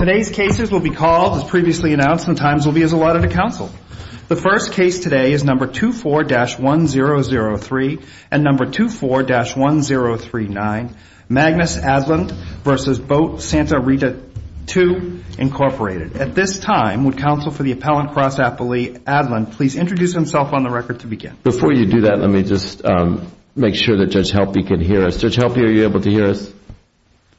At this time, would Counsel for the Appellant Cross Appellee Aadland please introduce himself on the record to begin. Before you do that, let me just make sure that Judge Helpe can hear us. Judge Helpe, are you able to hear us?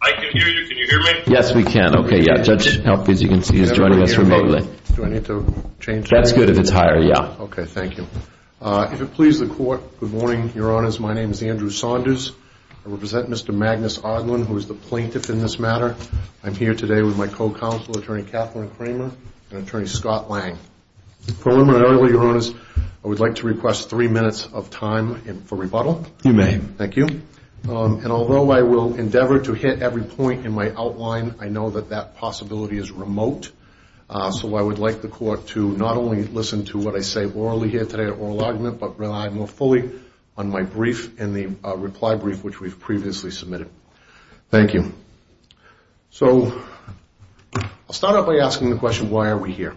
I can hear you. Can you hear me? Yes, we can. Okay, yeah. Judge Helpe, as you can see, is joining us remotely. Do I need to change? That's good if it's higher. Yeah. Okay, thank you. If it pleases the Court, good morning, Your Honors. My name is Andrew Saunders. I represent Mr. Magnus Aadland, who is the plaintiff in this matter. I'm here today with my co-counsel, Attorney Kathleen Kramer, and Attorney Scott Lang. Preliminarily, Your Honors, I would like to request three minutes of time for rebuttal. You may. Thank you. And although I will endeavor to hit every point in my outline, I know that that's not I'll start out by asking the question, why are we here?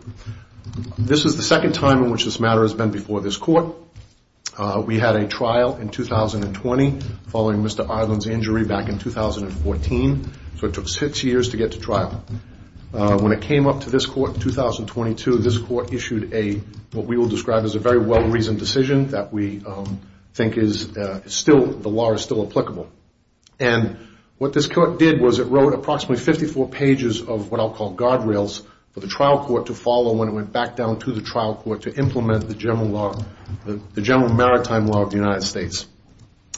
This is the second time in which this matter has been before this Court. We had a trial in 2020 following Mr. Aadland's injury back in 2014, so it took six years to get to trial. When it came up to this Court in 2022, this Court issued a, what we will describe as a very well-reasoned decision that we think is still, the law is still applicable. And what this Court did was it wrote approximately 54 pages of what I'll call guardrails for the trial court to follow when it went back down to the trial court to implement the general law, the general maritime law of the United States.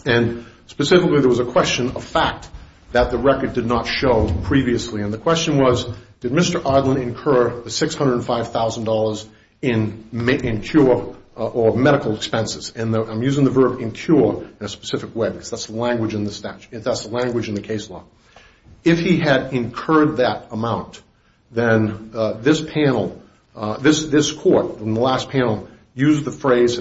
And specifically, there was a question of fact that the record did not show previously. And the question was, did Mr. Aadland incur the $605,000 in cure or medical expenses? And I'm using the verb incur in a specific way because that's the language in the statute. That's the language in the case law. If he had incurred that amount, then this panel, this Court in the last panel used the word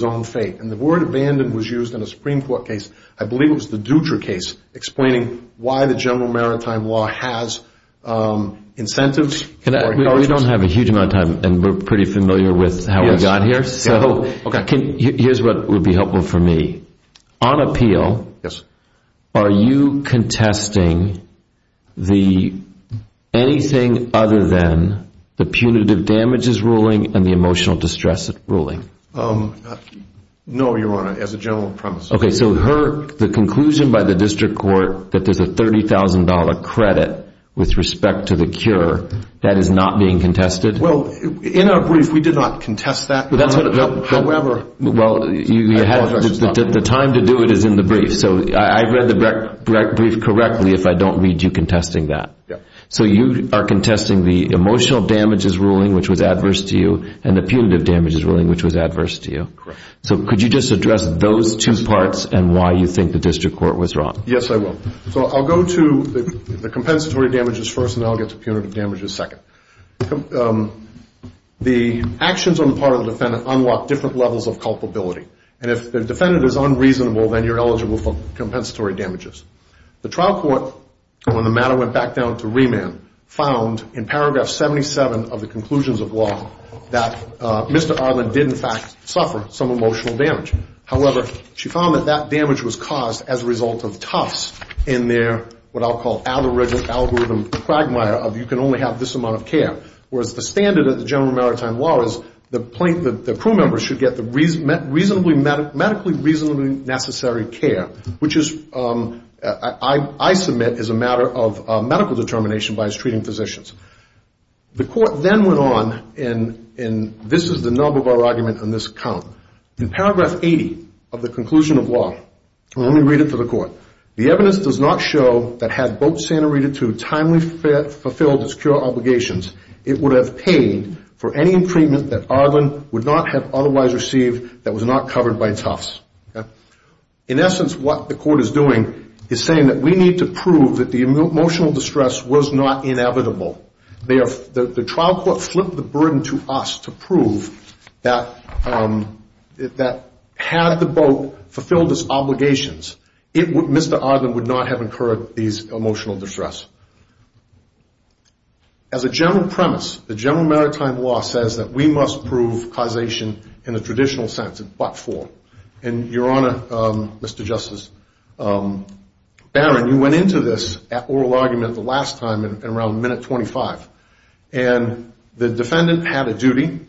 non-fate. And the word abandoned was used in a Supreme Court case, I believe it was the Dutra case, explaining why the general maritime law has incentives. We don't have a huge amount of time, and we're pretty familiar with how we got here. So here's what would be helpful for me. On appeal, are you contesting anything other than the punitive damages ruling and the emotional distress ruling? No, Your Honor. As a general premise. Okay. So the conclusion by the district court that there's a $30,000 credit with respect to the cure, that is not being contested? Well, in our brief, we did not contest that. However, I apologize. Well, the time to do it is in the brief. So I read the brief correctly if I don't read you contesting that. Yeah. So you are contesting the emotional damages ruling, which was adverse to you, and the punitive damages ruling, which was adverse to you? Correct. So could you just address those two parts and why you think the district court was wrong? Yes, I will. So I'll go to the compensatory damages first, and then I'll get to punitive damages second. The actions on the part of the defendant unlock different levels of culpability. And if the defendant is unreasonable, then you're eligible for compensatory damages. The trial court, when the matter went back down to remand, found in Paragraph 77 of the conclusions of law that Mr. Arlen did, in fact, suffer some emotional damage. However, she found that that damage was caused as a result of Tufts in their what I'll call algorithm quagmire of you can only have this amount of care, whereas the standard of the general maritime law is the crew members should get the medically reasonably necessary care, which I submit is a matter of medical determination by his treating physicians. The court then went on, and this is the nub of our argument in this account. In Paragraph 80 of the conclusion of law, let me read it to the court. The evidence does not show that had Boat Santa Rita II timely fulfilled its cure obligations, it would have paid for any treatment that Arlen would not have otherwise received that was not covered by Tufts. In essence, what the court is doing is saying that we need to prove that the emotional distress was not inevitable. The trial court flipped the burden to us to prove that had the boat fulfilled its obligations, Mr. Arlen would not have incurred these emotional distress. As a general premise, the general maritime law says that we must prove causation in the traditional sense in part four, and your honor, Mr. Justice Barron, you went into this at oral argument the last time in around minute 25, and the defendant had a duty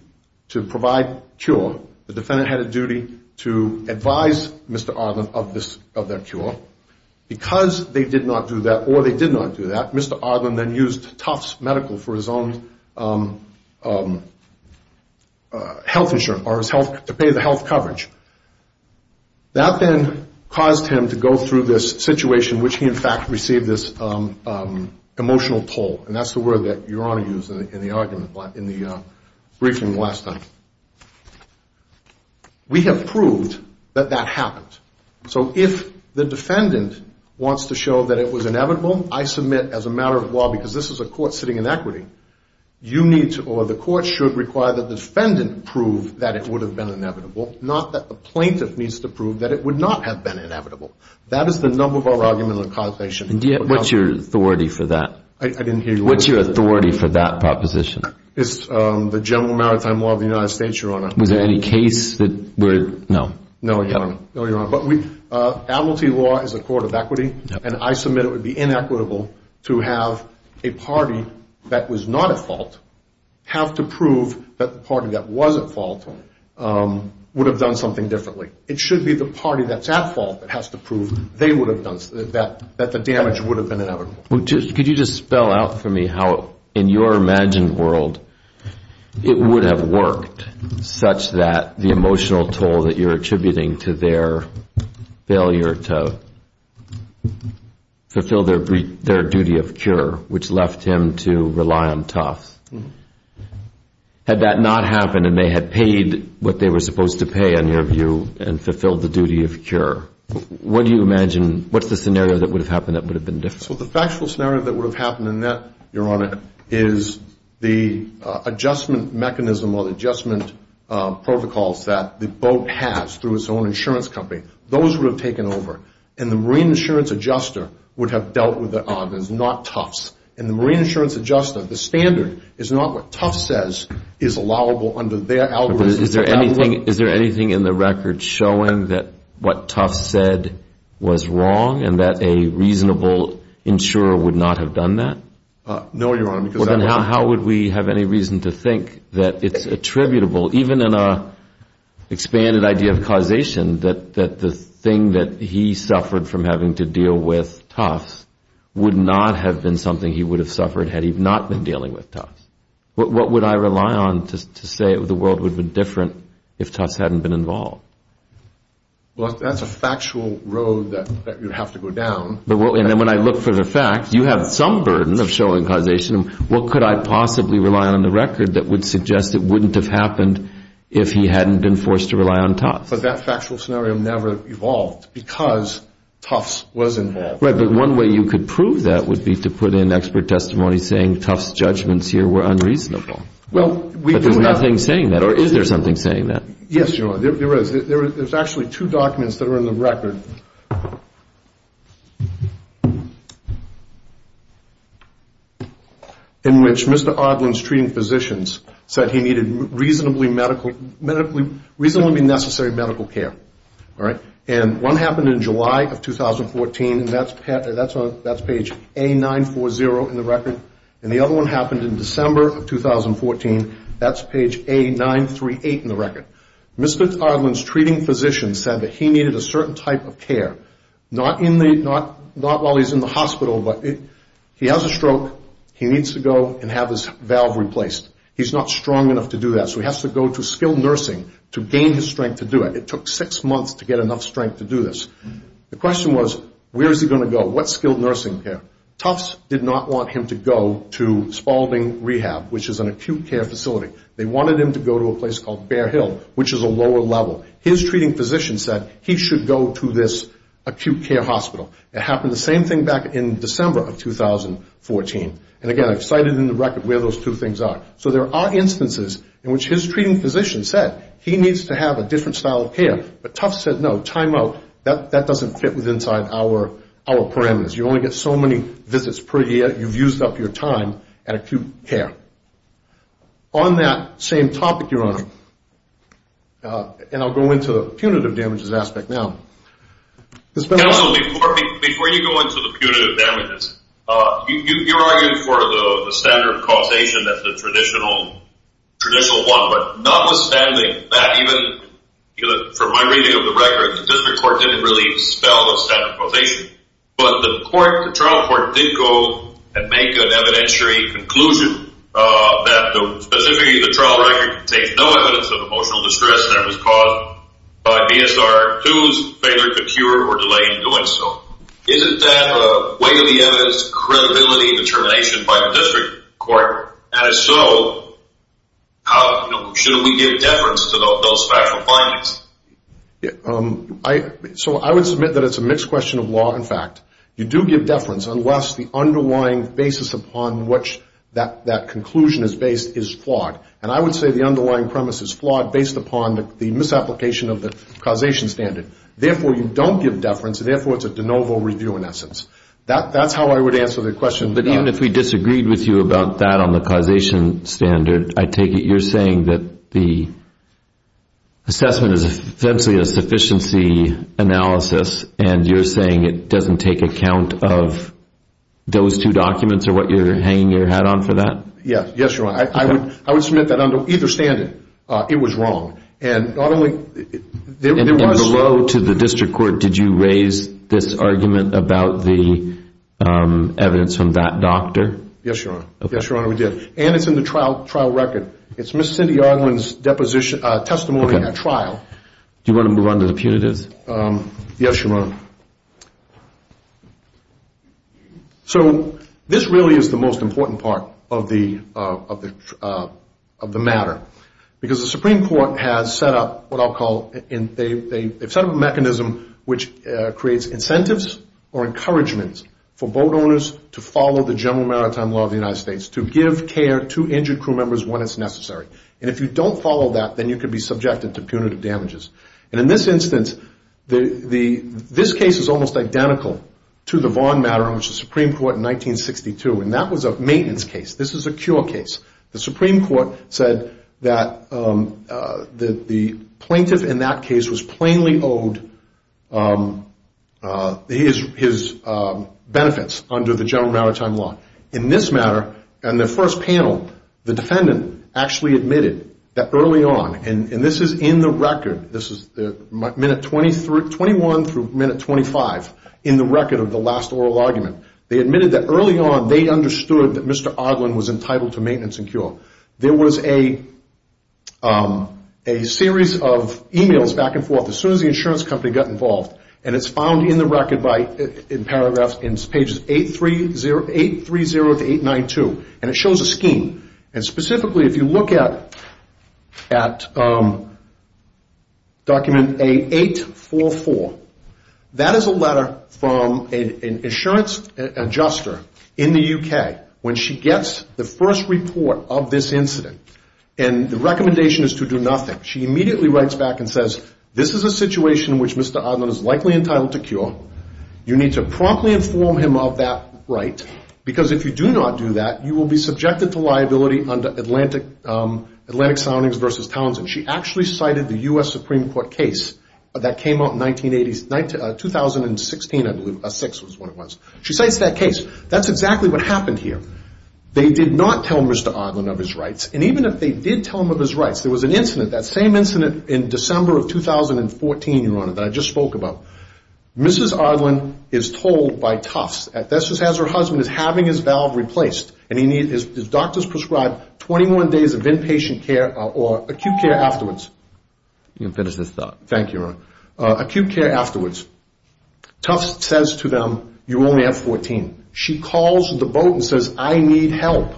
to provide cure. The defendant had a duty to advise Mr. Arlen of their cure. Because they did not do that or they did not do that, Mr. Arlen then used Tufts Medical for his own health insurance or to pay the health coverage. That then caused him to go through this situation which he in fact received this emotional toll. And that's the word that your honor used in the argument in the briefing the last time. We have proved that that happened. So if the defendant wants to show that it was inevitable, I submit as a matter of law, because this is a court sitting in equity, you need to or the court should require that the defendant prove that it would have been inevitable, not that the plaintiff needs to prove that it would not have been inevitable. That is the number four argument on causation. What's your authority for that proposition? It's the general maritime law of the United States, your honor. Was there any case that would, no. No, your honor. But we, admiralty law is a court of equity, and I submit it would be inequitable to have a party that was not at fault have to prove that the party that was at fault would have done something differently. It should be the party that's at fault that has to prove they would have done, that the damage would have been inevitable. Could you just spell out for me how in your imagined world it would have worked such that the emotional toll that you're attributing to their failure to fulfill their duty of cure, which left him to rely on Tufts. Had that not happened and they had paid what they were supposed to pay, in your view, and fulfilled the duty of cure, what do you imagine, what's the scenario that would have happened that would have been different? Well, the factual scenario that would have happened in that, your honor, is the adjustment mechanism or the adjustment protocols that the boat has through its own insurance company. Those would have taken over, and the marine insurance adjuster would have dealt with it on. It's not Tufts. And the marine insurance adjuster, the standard, is not what Tufts says is allowable under their algorithm. Is there anything in the record showing that what Tufts said was wrong and that a reasonable insurer would not have done that? No, your honor. How would we have any reason to think that it's attributable, even in an expanded idea of causation, that the thing that he would have suffered had he not been dealing with Tufts? What would I rely on to say the world would be different if Tufts hadn't been involved? Well, that's a factual road that you'd have to go down. And when I look for the facts, you have some burden of showing causation. What could I possibly rely on in the record that would suggest it wouldn't have happened if he hadn't been forced to rely on Tufts? But that factual scenario never evolved because Tufts was involved. Right, but one way you could prove that would be to put in expert testimony saying Tufts' judgments here were unreasonable. But there's nothing saying that. Or is there something saying that? Yes, your honor, there is. There's actually two documents that are in the record in which Mr. Ardlin's treating physicians said he needed reasonably medical, reasonably necessary medical care. All right? And one happened in July of 2014, and that's page A940 in the record. And the other one happened in December of 2014, that's page A938 in the record. Mr. Ardlin's treating physicians said that he needed a certain type of care. Not while he's in the hospital, but he has a stroke. He needs to go and have his valve replaced. He's not strong enough to do that, so he has to go to skilled nursing to gain his strength to do it. It took six months to get enough strength to do this. The question was, where is he going to go? What skilled nursing care? Tufts did not want him to go to Spalding Rehab, which is an acute care facility. They wanted him to go to a place called Bear Hill, which is a lower level. His treating physician said he should go to this acute care hospital. It happened the same thing back in December of 2014. And again, I've cited in the record where those two things are. So there are instances in which his treating physician said he needs to have a different style of care. But Tufts said no, time out, that doesn't fit inside our parameters. You only get so many visits per year, you've used up your time at acute care. On that same topic, Your Honor, and I'll go into the punitive damages aspect now. Counsel, before you go into the punitive damages, you're arguing for the standard causation of the traditional one. But notwithstanding that, even from my reading of the record, the district court didn't really dispel the standard causation. But the trial court did go and make an evidentiary conclusion that specifically the trial record contains no evidence of emotional distress that was caused by BSR 2's failure to cure or delay in doing so. Isn't that a way of the evidence, credibility determination by the district court? And if so, should we give deference to those factual findings? So I would submit that it's a mixed question of law and fact. You do give deference unless the underlying basis upon which that conclusion is based is flawed. And I would say the underlying premise is flawed based upon the misapplication of the causation standard. Therefore, you don't give deference, and therefore it's a de novo review in essence. That's how I would answer the question. But even if we disagreed with you about that on the causation standard, I take it you're saying that the assessment is essentially a sufficiency analysis, and you're saying it doesn't take account of those two documents or what you're hanging your hat on for that? Yes, you're right. I would submit that under either standard it was wrong. And below to the district court, did you raise this argument about the evidence from that doctor? Yes, Your Honor. And it's in the trial record. Do you want to move on to the punitives? Yes, Your Honor. So this really is the most important part of the matter. Because the Supreme Court has set up what I'll call they've set up a mechanism which creates incentives or encouragements for boat owners to follow the general maritime law of the United States, to give care to injured crew members when it's necessary. And if you don't follow that, then you could be subjected to punitive damages. And in this instance, this case is almost identical to the Vaughn matter in which the Supreme Court in 1962, and that was a maintenance case. This is a cure case. The Supreme Court said that the plaintiff in that case was plainly owed his benefits under the general maritime law. In this matter, in the first panel, the defendant actually admitted that early on, and this is in the record, this is minute 21 through minute 25, in the record of the last oral argument, they admitted that early on they understood that Mr. Oglin was entitled to maintenance and cure. There was a series of e-mails back and forth as soon as the insurance company got involved, and it's found in the record in paragraphs in pages 830 to 892, and it shows a scheme. And specifically, if you look at document A844, that is a letter from an insurance adjuster in the U.K. when she gets the first report of this incident, and the recommendation is to do nothing. She immediately writes back and says, this is a situation in which Mr. Oglin is likely entitled to cure. You need to promptly inform him of that right, because if you do not do that, you will be subjected to liability under Atlantic Soundings v. Townsend. She actually cited the U.S. Supreme Court case that came out in 2016, I believe, 6 was when it was. She cites that case. That's exactly what happened here. They did not tell Mr. Oglin of his rights, and even if they did tell him of his rights, there was an incident, that same incident in December of 2014, Your Honor, that I just spoke about. Mrs. Oglin is told by Tufts that her husband is having his valve replaced, and his doctor has prescribed 21 days of inpatient care or acute care afterwards. You can finish this thought. Thank you, Your Honor. Acute care afterwards. Tufts says to them, you only have 14. She calls the boat and says, I need help.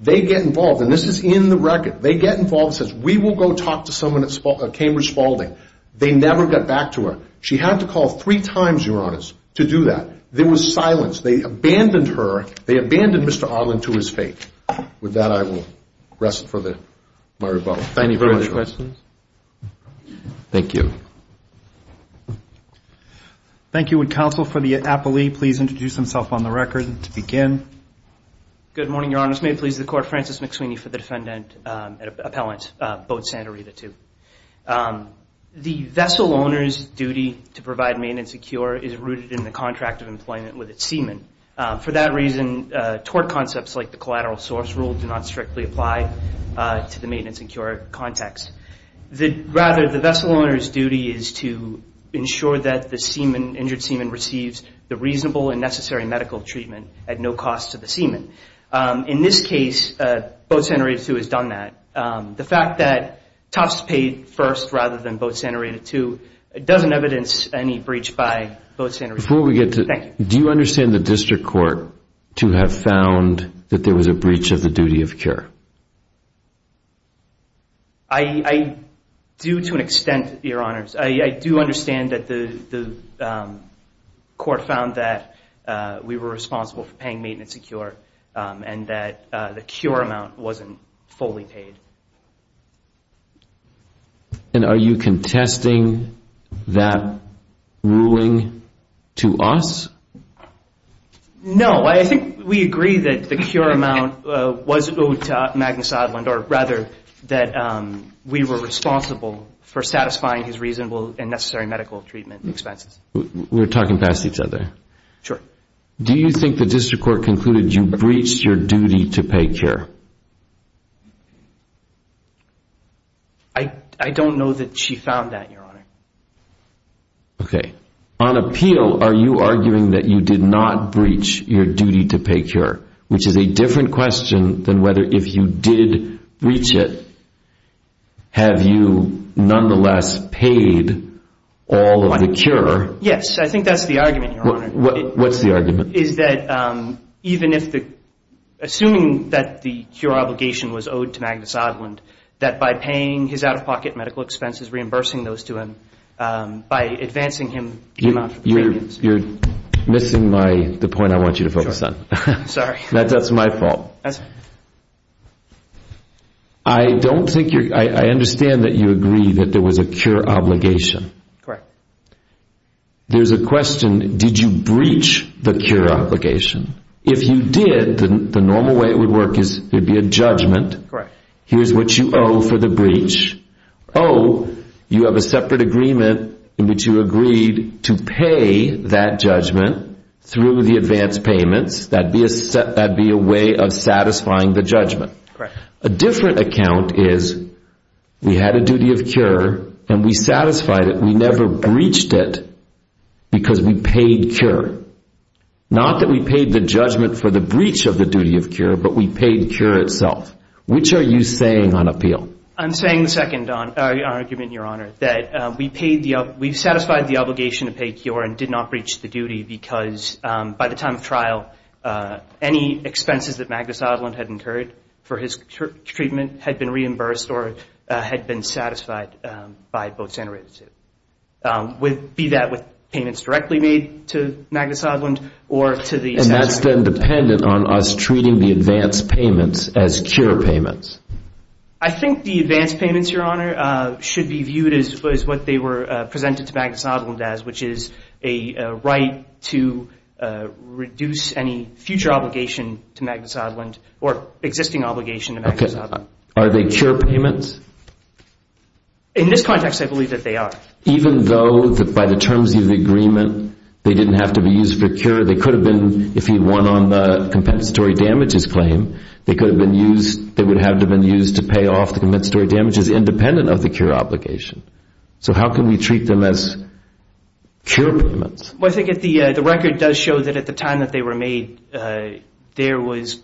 They get involved, and this is in the record. They get involved and says, we will go talk to someone at Cambridge Spaulding. They never got back to her. She had to call three times, Your Honors, to do that. There was silence. They abandoned her. They abandoned Mr. Oglin to his fate. With that, I will rest for my rebuttal. Thank you very much. Any further questions? Thank you. Thank you. Would counsel for the appellee please introduce himself on the record to begin? Good morning, Your Honors. May it please the Court, Francis McSweeney for the defendant appellant, boat Santa Rita II. The vessel owner's duty to provide maintenance and cure is rooted in the contract of employment with its seaman. For that reason, tort concepts like the collateral source rule do not strictly apply to the maintenance and cure context. Rather, the vessel owner's duty is to ensure that the injured seaman receives the reasonable and necessary medical treatment at no cost to the seaman. In this case, boat Santa Rita II has done that. The fact that Tufts paid first rather than boat Santa Rita II doesn't evidence any breach by boat Santa Rita II. Before we get to that, do you understand the district court to have found that there was a breach of the duty of care? I do to an extent, Your Honors. I do understand that the court found that we were responsible for paying maintenance and cure and that the cure amount wasn't fully paid. And are you contesting that ruling to us? No. I think we agree that the cure amount was owed to Magnus Odlund, or rather that we were responsible for satisfying his reasonable and necessary medical treatment expenses. We're talking past each other. Sure. Do you think the district court concluded you breached your duty to pay care? I don't know that she found that, Your Honor. Okay. On appeal, are you arguing that you did not breach your duty to pay care, which is a different question than whether if you did breach it, have you nonetheless paid all of the cure? Yes. I think that's the argument, Your Honor. What's the argument? Is that even if the assuming that the cure obligation was owed to Magnus Odlund, that by paying his out-of-pocket medical expenses, reimbursing those to him, by advancing him, you're missing the point I want you to focus on. Sorry. That's my fault. I understand that you agree that there was a cure obligation. Correct. There's a question, did you breach the cure obligation? If you did, the normal way it would work is there would be a judgment. Correct. Here's what you owe for the breach. Owe, you have a separate agreement in which you agreed to pay that judgment through the advance payments. That would be a way of satisfying the judgment. Correct. A different account is we had a duty of cure and we satisfied it. We never breached it because we paid cure. Not that we paid the judgment for the breach of the duty of cure, but we paid cure itself. Which are you saying on appeal? I'm saying the second argument, Your Honor, that we've satisfied the obligation to pay cure and did not breach the duty because by the time of trial, any expenses that Magnus Odlund had incurred for his treatment had been reimbursed or had been satisfied by both senators. Be that with payments directly made to Magnus Odlund or to the senator. And that's then dependent on us treating the advance payments as cure payments. I think the advance payments, Your Honor, should be viewed as what they were presented to Magnus Odlund as, which is a right to reduce any future obligation to Magnus Odlund or existing obligation to Magnus Odlund. Are they cure payments? In this context, I believe that they are. Even though by the terms of the agreement, they didn't have to be used for cure, they could have been if he won on the compensatory damages claim, they would have been used to pay off the compensatory damages independent of the cure obligation. So how can we treat them as cure payments? Well, I think the record does show that at the time that they were made, there was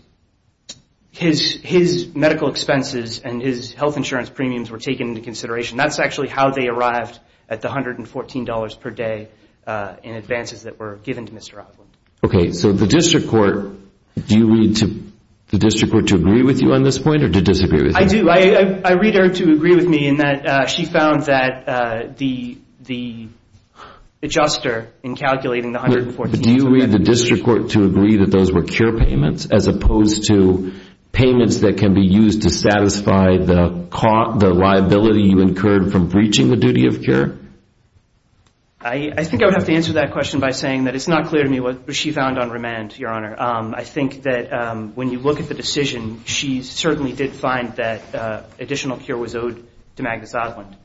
his medical expenses and his health insurance premiums were taken into consideration. That's actually how they arrived at the $114 per day in advances that were given to Mr. Odlund. Okay. So the district court, do you read the district court to agree with you on this point or to disagree with you? I do. I read her to agree with me in that she found that the adjuster in calculating the $114 Do you read the district court to agree that those were cure payments as opposed to payments that can be used to satisfy the liability you incurred from breaching the duty of cure? I think I would have to answer that question by saying that it's not clear to me what she found on remand, Your Honor. I think that when you look at the decision, she certainly did find that additional cure was owed to Magnus Odlund,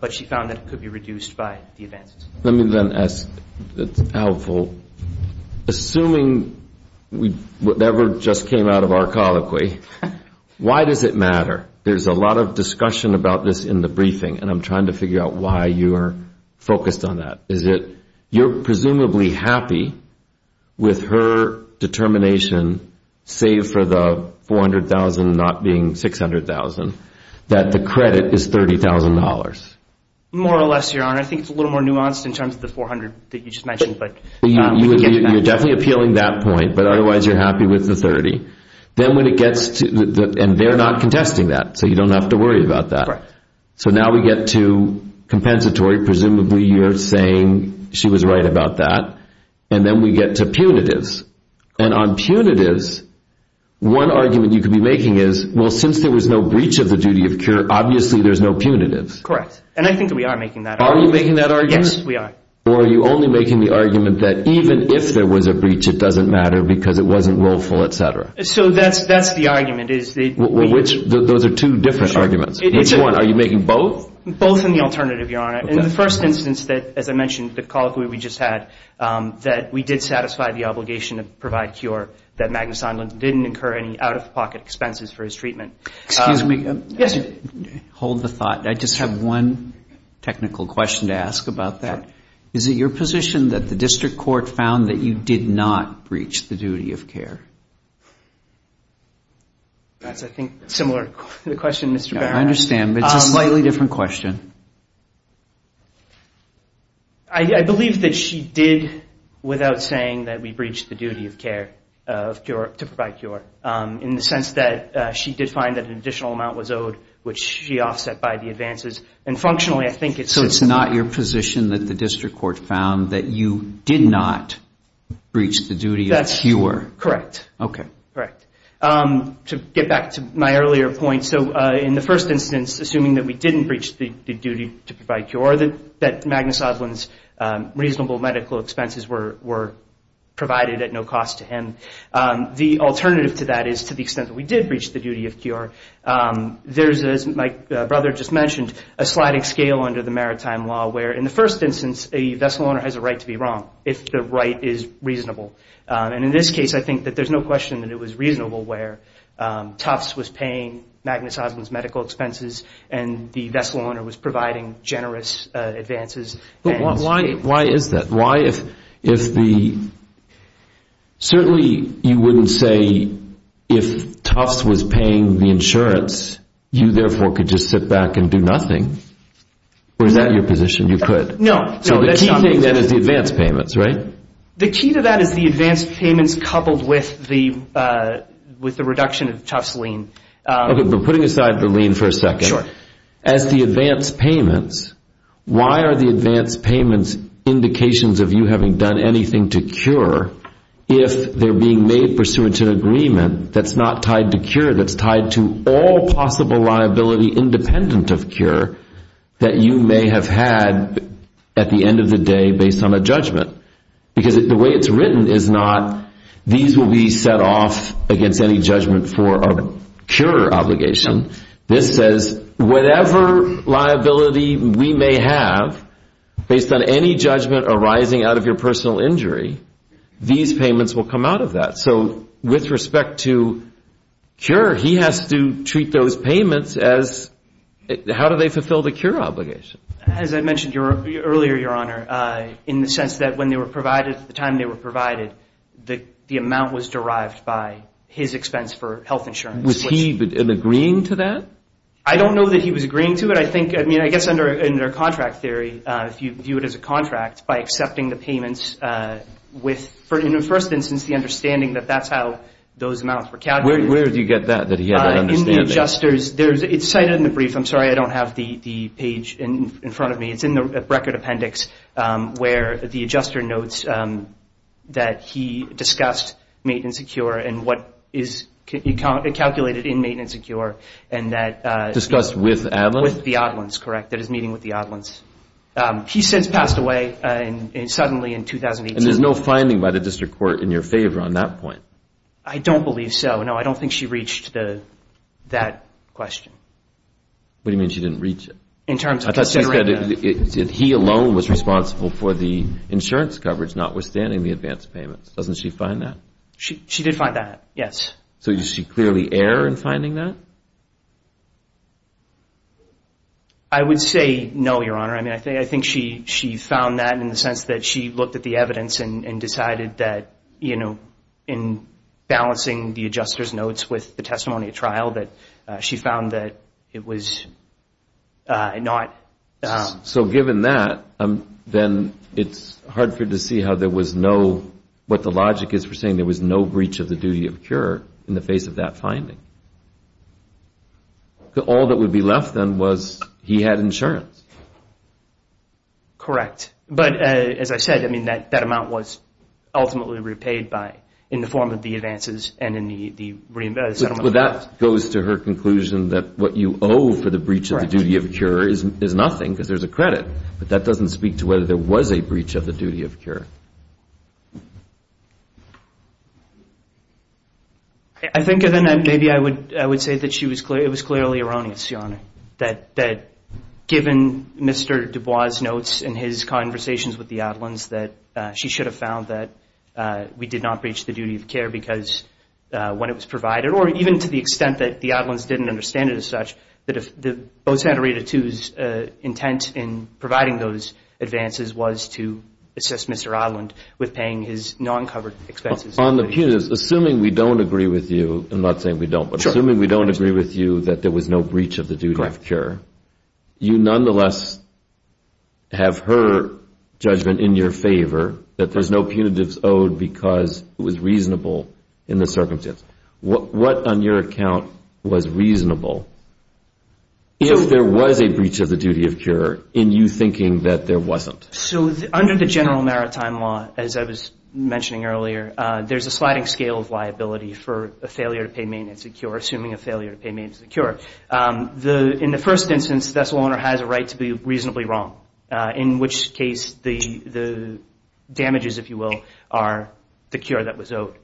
but she found that it could be reduced by the advances. Let me then ask Al Volk, assuming whatever just came out of our colloquy, why does it matter? There's a lot of discussion about this in the briefing, and I'm trying to figure out why you are focused on that. Is it you're presumably happy with her determination, save for the $400,000 not being $600,000, that the credit is $30,000? More or less, Your Honor. I think it's a little more nuanced in terms of the $400,000 that you just mentioned. You're definitely appealing that point, but otherwise you're happy with the $30,000. And they're not contesting that, so you don't have to worry about that. So now we get to compensatory. Presumably you're saying she was right about that. And then we get to punitives. And on punitives, one argument you could be making is, well, since there was no breach of the duty of cure, obviously there's no punitives. Correct. And I think that we are making that argument. Are you making that argument? Yes, we are. Or are you only making the argument that even if there was a breach, it doesn't matter because it wasn't willful, et cetera? So that's the argument. Which? Those are two different arguments. Which one? Are you making both? Both and the alternative, Your Honor. In the first instance that, as I mentioned, the colloquy we just had, that we did satisfy the obligation to provide cure, that Magnus Einlund didn't incur any out-of-pocket expenses for his treatment. Excuse me. Yes, sir. Hold the thought. I just have one technical question to ask about that. Sure. Is it your position that the district court found that you did not breach the duty of care? That's, I think, a similar question, Mr. Barron. I understand, but it's a slightly different question. I believe that she did without saying that we breached the duty of care to provide cure, in the sense that she did find that an additional amount was owed, which she offset by the advances. And functionally, I think it's- So it's not your position that the district court found that you did not breach the duty of cure? That's correct. Okay. Correct. To get back to my earlier point, so in the first instance, assuming that we didn't breach the duty to provide cure, that Magnus Einlund's reasonable medical expenses were provided at no cost to him, the alternative to that is to the extent that we did breach the duty of cure, there's, as my brother just mentioned, a sliding scale under the maritime law where, in the first instance, a vessel owner has a right to be wrong if the right is reasonable. And in this case, I think that there's no question that it was reasonable where Tufts was paying Magnus Einlund's medical expenses and the vessel owner was providing generous advances. But why is that? Why if the- Certainly, you wouldn't say if Tufts was paying the insurance, you, therefore, could just sit back and do nothing. Or is that your position, you could? No. So the key thing then is the advance payments, right? The key to that is the advance payments coupled with the reduction of Tufts' lien. Okay, but putting aside the lien for a second. Sure. As the advance payments, why are the advance payments indications of you having done anything to cure if they're being made pursuant to an agreement that's not tied to cure, that's tied to all possible liability independent of cure that you may have had at the end of the day based on a judgment? Because the way it's written is not these will be set off against any judgment for a cure obligation. This says whatever liability we may have based on any judgment arising out of your personal injury, these payments will come out of that. So with respect to cure, he has to treat those payments as how do they fulfill the cure obligation? As I mentioned earlier, Your Honor, in the sense that when they were provided, at the time they were provided, the amount was derived by his expense for health insurance. Was he agreeing to that? I don't know that he was agreeing to it. I mean, I guess under contract theory, if you view it as a contract, by accepting the payments with, in the first instance, the understanding that that's how those amounts were calculated. Where did you get that, that he had that understanding? In the adjusters. It's cited in the brief. I'm sorry I don't have the page in front of me. It's in the record appendix where the adjuster notes that he discussed maintenance of cure and what is calculated in maintenance of cure. Discussed with Adlins? With the Adlins, correct. That is meeting with the Adlins. He says passed away suddenly in 2018. And there's no finding by the district court in your favor on that point? I don't believe so. No, I don't think she reached that question. What do you mean she didn't reach it? I thought she said he alone was responsible for the insurance coverage, notwithstanding the advance payments. Doesn't she find that? She did find that, yes. So does she clearly err in finding that? I would say no, Your Honor. I mean, I think she found that in the sense that she looked at the evidence and decided that, you know, in balancing the adjuster's notes with the testimony at trial that she found that it was not. So given that, then it's hard for you to see how there was no, what the logic is for saying there was no breach of the duty of cure in the face of that finding. All that would be left then was he had insurance. Correct. But, as I said, I mean, that amount was ultimately repaid in the form of the advances and in the settlement. But that goes to her conclusion that what you owe for the breach of the duty of cure is nothing because there's a credit. But that doesn't speak to whether there was a breach of the duty of cure. I think then maybe I would say that it was clearly erroneous, Your Honor, that given Mr. Dubois' notes and his conversations with the Adelands, that she should have found that we did not breach the duty of care because when it was provided, or even to the extent that the Adelands didn't understand it as such, that if both Santa Rita II's intent in providing those advances was to assist Mr. Adeland with paying his non-covered expenses. On the punitive, assuming we don't agree with you, I'm not saying we don't, but assuming we don't agree with you that there was no breach of the duty of cure, you nonetheless have her judgment in your favor that there's no punitive owed because it was reasonable in the circumstance. What, on your account, was reasonable if there was a breach of the duty of cure in you thinking that there wasn't? So under the general maritime law, as I was mentioning earlier, there's a sliding scale of liability for a failure to pay maintenance of cure, assuming a failure to pay maintenance of cure. In the first instance, the vessel owner has a right to be reasonably wrong, in which case the damages, if you will, are the cure that was owed.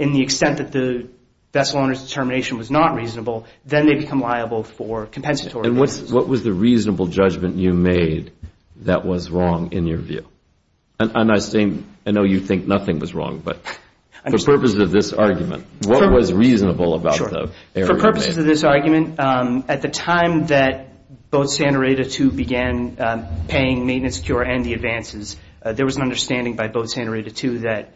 In the extent that the vessel owner's determination was not reasonable, then they become liable for compensatory damages. And what was the reasonable judgment you made that was wrong in your view? And I know you think nothing was wrong, but for purposes of this argument, what was reasonable about the error you made? For purposes of this argument, at the time that Boat Santa Rita II began paying maintenance of cure and the advances, there was an understanding by Boat Santa Rita II that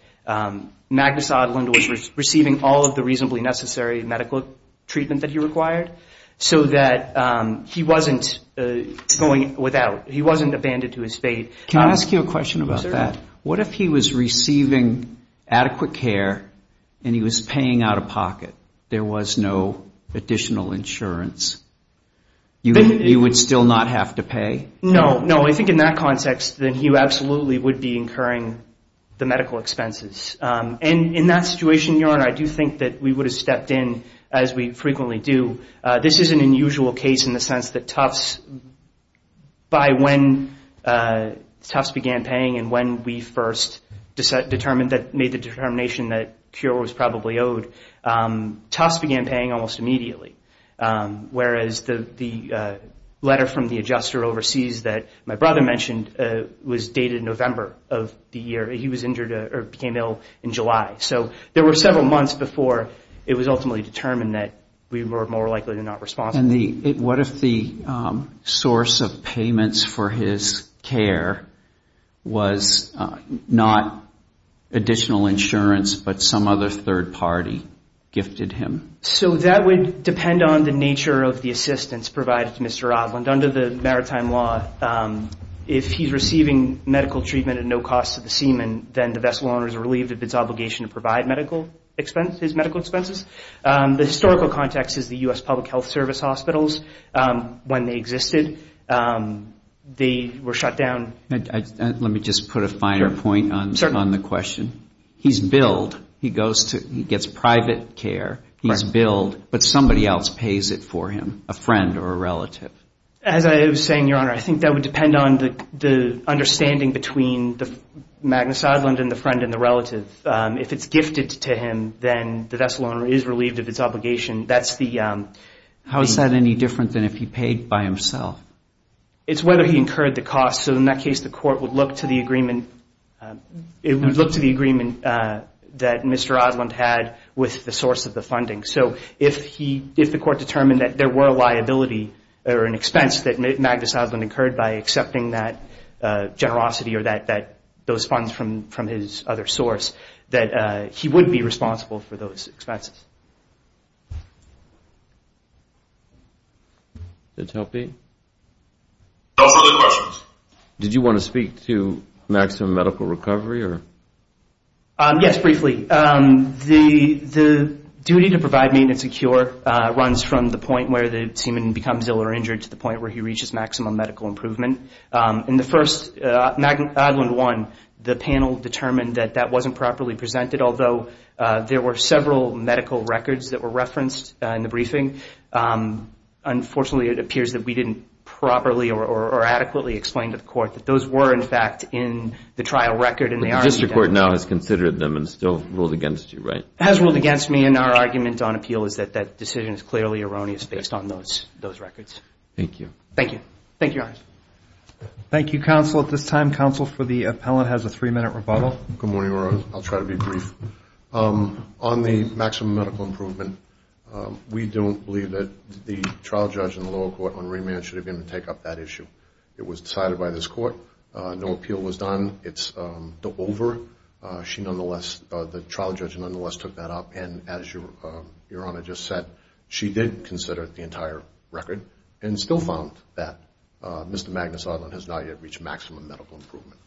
Magnus Oddlund was receiving all of the reasonably necessary medical treatment that he required so that he wasn't abandoned to his fate. Can I ask you a question about that? What if he was receiving adequate care and he was paying out of pocket? There was no additional insurance. He would still not have to pay? No, no. I think in that context, then he absolutely would be incurring the medical expenses. And in that situation, Your Honor, I do think that we would have stepped in, as we frequently do. This is an unusual case in the sense that Tufts, by when Tufts began paying and when we first determined that, made the determination that cure was probably owed, Tufts began paying almost immediately. Whereas the letter from the adjuster overseas that my brother mentioned was dated November of the year. He was injured or became ill in July. So there were several months before it was ultimately determined that we were more likely to not respond. And what if the source of payments for his care was not additional insurance but some other third party gifted him? So that would depend on the nature of the assistance provided to Mr. Oddlund. Under the maritime law, if he's receiving medical treatment at no cost to the seaman, then the vessel owner is relieved of its obligation to provide medical expenses, his medical expenses. The historical context is the U.S. Public Health Service hospitals. When they existed, they were shut down. Let me just put a finer point on the question. He's billed. He gets private care. He's billed. But somebody else pays it for him, a friend or a relative. As I was saying, Your Honor, I think that would depend on the understanding between Magnus Oddlund and the friend and the relative. If it's gifted to him, then the vessel owner is relieved of its obligation. How is that any different than if he paid by himself? It's whether he incurred the cost. So in that case, the court would look to the agreement that Mr. Oddlund had with the source of the funding. So if the court determined that there were a liability or an expense that Magnus Oddlund incurred by accepting that generosity or those funds from his other source, that he would be responsible for those expenses. Did that help you? No further questions. Did you want to speak to maximum medical recovery? Yes, briefly. The duty to provide maintenance and cure runs from the point where the seaman becomes ill or injured to the point where he reaches maximum medical improvement. In the first, Oddlund 1, the panel determined that that wasn't properly presented, although there were several medical records that were referenced in the briefing. Unfortunately, it appears that we didn't properly or adequately explain to the court that those were, in fact, in the trial record. But the district court now has considered them and still ruled against you, right? It has ruled against me, and our argument on appeal is that that decision is clearly erroneous based on those records. Thank you. Thank you. Thank you, Your Honor. Thank you, counsel. At this time, counsel for the appellant has a three-minute rebuttal. Good morning, Your Honor. I'll try to be brief. On the maximum medical improvement, we don't believe that the trial judge in the lower court on remand should have been able to take up that issue. It was decided by this court. No appeal was done. It's over. The trial judge nonetheless took that up, and as Your Honor just said, she did consider the entire record and still found that Mr. Magnus Oddlund has not yet reached maximum medical improvement.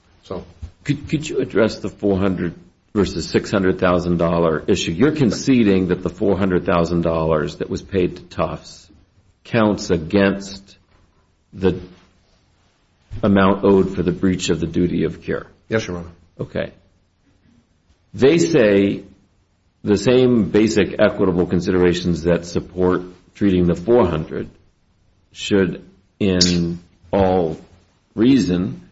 Could you address the $400,000 versus $600,000 issue? You're conceding that the $400,000 that was paid to Tufts counts against the amount owed for the breach of the duty of care? Yes, Your Honor. Okay. They say the same basic equitable considerations that support treating the $400,000 should, in all reason,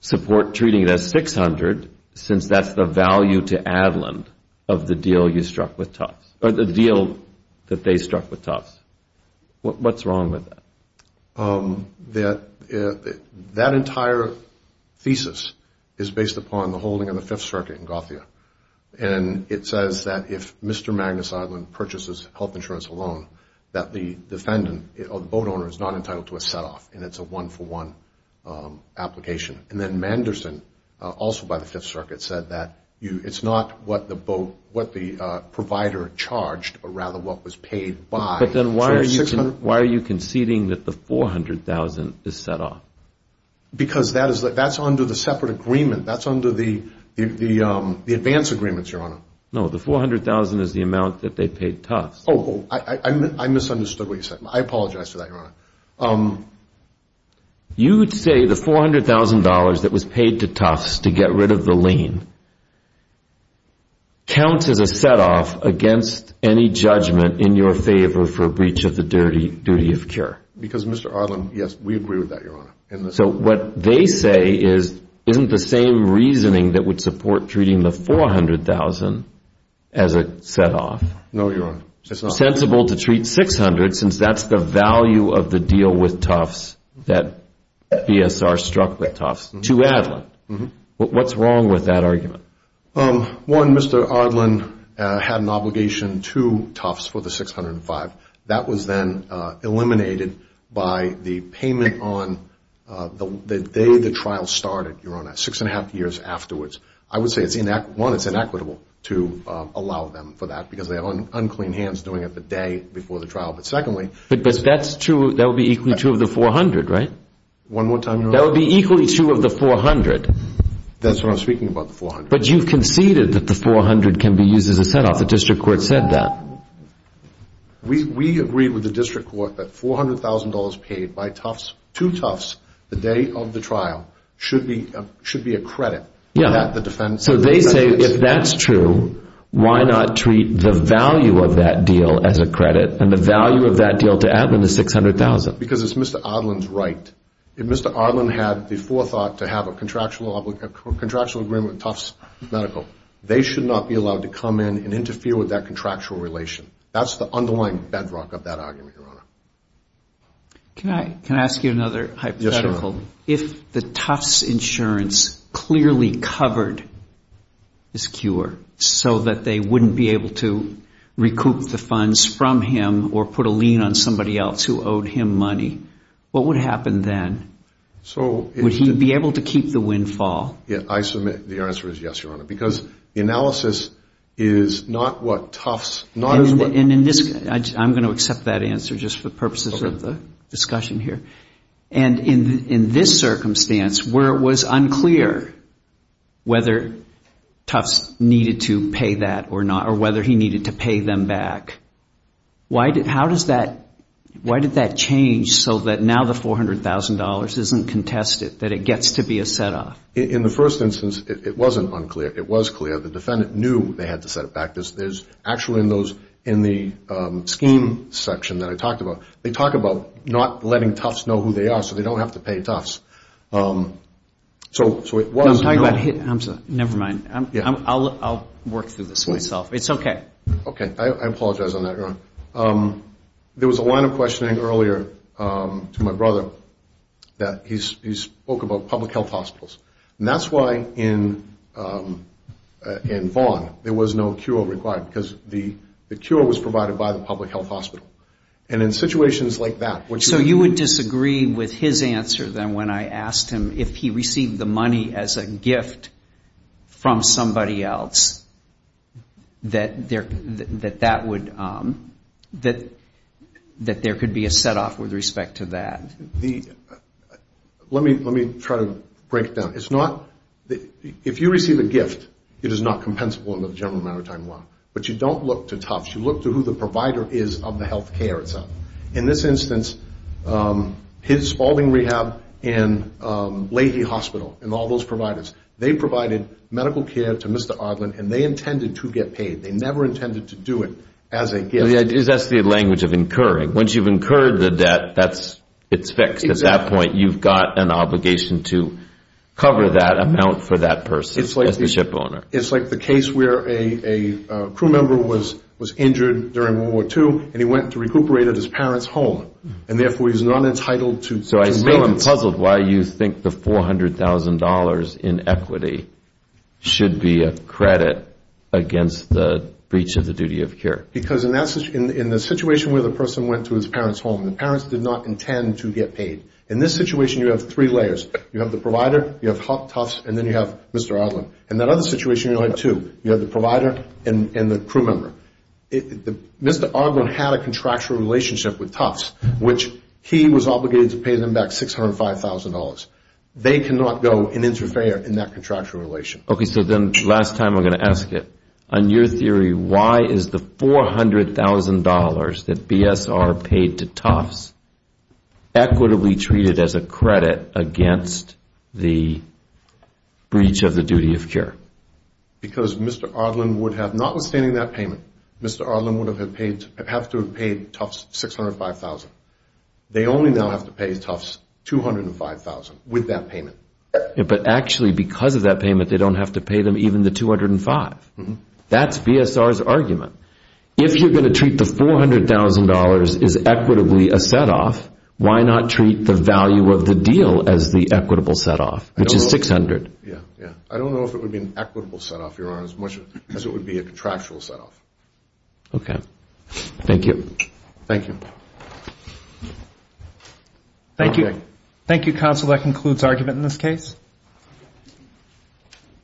support treating it as $600,000 since that's the value to Oddlund of the deal you struck with Tufts or the deal that they struck with Tufts. What's wrong with that? That entire thesis is based upon the holding of the Fifth Circuit in Gothia, and it says that if Mr. Magnus Oddlund purchases health insurance alone, that the defendant or the boat owner is not entitled to a set-off, and it's a one-for-one application. And then Manderson, also by the Fifth Circuit, said that it's not what the provider charged, but rather what was paid by. Then why are you conceding that the $400,000 is set-off? Because that's under the separate agreement. That's under the advance agreements, Your Honor. No, the $400,000 is the amount that they paid Tufts. Oh, I misunderstood what you said. I apologize for that, Your Honor. You would say the $400,000 that was paid to Tufts to get rid of the lien counts as a set-off against any judgment in your favor for breach of the duty of cure. Because Mr. Oddlund, yes, we agree with that, Your Honor. So what they say isn't the same reasoning that would support treating the $400,000 as a set-off. No, Your Honor. It's sensible to treat $600,000 since that's the value of the deal with Tufts that BSR struck with Tufts to Addlund. What's wrong with that argument? One, Mr. Oddlund had an obligation to Tufts for the $605,000. That was then eliminated by the payment on the day the trial started, Your Honor, six and a half years afterwards. I would say, one, it's inequitable to allow them for that because they have unclean hands doing it the day before the trial. But secondly— But that would be equal to two of the $400,000, right? One more time, Your Honor. That would be equally two of the $400,000. That's what I'm speaking about, the $400,000. But you've conceded that the $400,000 can be used as a set-off. The district court said that. We agreed with the district court that $400,000 paid by Tufts to Tufts the day of the trial should be a credit. Yeah. So they say if that's true, why not treat the value of that deal as a credit, and the value of that deal to Addlund is $600,000? Because it's Mr. Oddlund's right. If Mr. Oddlund had the forethought to have a contractual agreement with Tufts Medical, they should not be allowed to come in and interfere with that contractual relation. That's the underlying bedrock of that argument, Your Honor. Can I ask you another hypothetical? Yes, Your Honor. If the Tufts Insurance clearly covered this cure so that they wouldn't be able to recoup the funds from him or put a lien on somebody else who owed him money, what would happen then? Would he be able to keep the windfall? I submit the answer is yes, Your Honor, because the analysis is not what Tufts, not as what— I'm going to accept that answer just for purposes of the discussion here. And in this circumstance where it was unclear whether Tufts needed to pay that or not, whether he needed to pay them back, why did that change so that now the $400,000 isn't contested, that it gets to be a set-off? In the first instance, it wasn't unclear. It was clear. The defendant knew they had to set it back. There's actually in the scheme section that I talked about, they talk about not letting Tufts know who they are so they don't have to pay Tufts. So it wasn't— I'm sorry. Never mind. I'll work through this myself. It's okay. Okay. I apologize on that, Your Honor. There was a line of questioning earlier to my brother that he spoke about public health hospitals. And that's why in Vaughan there was no cure required because the cure was provided by the public health hospital. And in situations like that, what you— that there could be a set-off with respect to that. Let me try to break it down. It's not—if you receive a gift, it is not compensable under the general matter of time law. But you don't look to Tufts. You look to who the provider is of the health care itself. In this instance, Spalding Rehab and Leahy Hospital and all those providers, they provided medical care to Mr. Ardlin, and they intended to get paid. They never intended to do it as a gift. That's the language of incurring. Once you've incurred the debt, it's fixed. At that point, you've got an obligation to cover that amount for that person as the shipowner. It's like the case where a crew member was injured during World War II, and he went to recuperate at his parents' home. And therefore, he's not entitled to— So I still am puzzled why you think the $400,000 in equity should be a credit against the breach of the duty of care. Because in the situation where the person went to his parents' home, the parents did not intend to get paid. In this situation, you have three layers. You have the provider, you have Tufts, and then you have Mr. Ardlin. In that other situation, you have two. You have the provider and the crew member. Mr. Ardlin had a contractual relationship with Tufts, which he was obligated to pay them back $605,000. They cannot go and interfere in that contractual relation. Okay, so then last time I'm going to ask it. On your theory, why is the $400,000 that BSR paid to Tufts equitably treated as a credit against the breach of the duty of care? Because Mr. Ardlin would have, notwithstanding that payment, Mr. Ardlin would have had to have paid Tufts $605,000. They only now have to pay Tufts $205,000 with that payment. But actually because of that payment, they don't have to pay them even the $205,000. That's BSR's argument. If you're going to treat the $400,000 as equitably a set-off, why not treat the value of the deal as the equitable set-off, which is $600,000? I don't know if it would be an equitable set-off, Your Honor, as much as it would be a contractual set-off. Okay, thank you. Thank you. Thank you, counsel. That concludes argument in this case.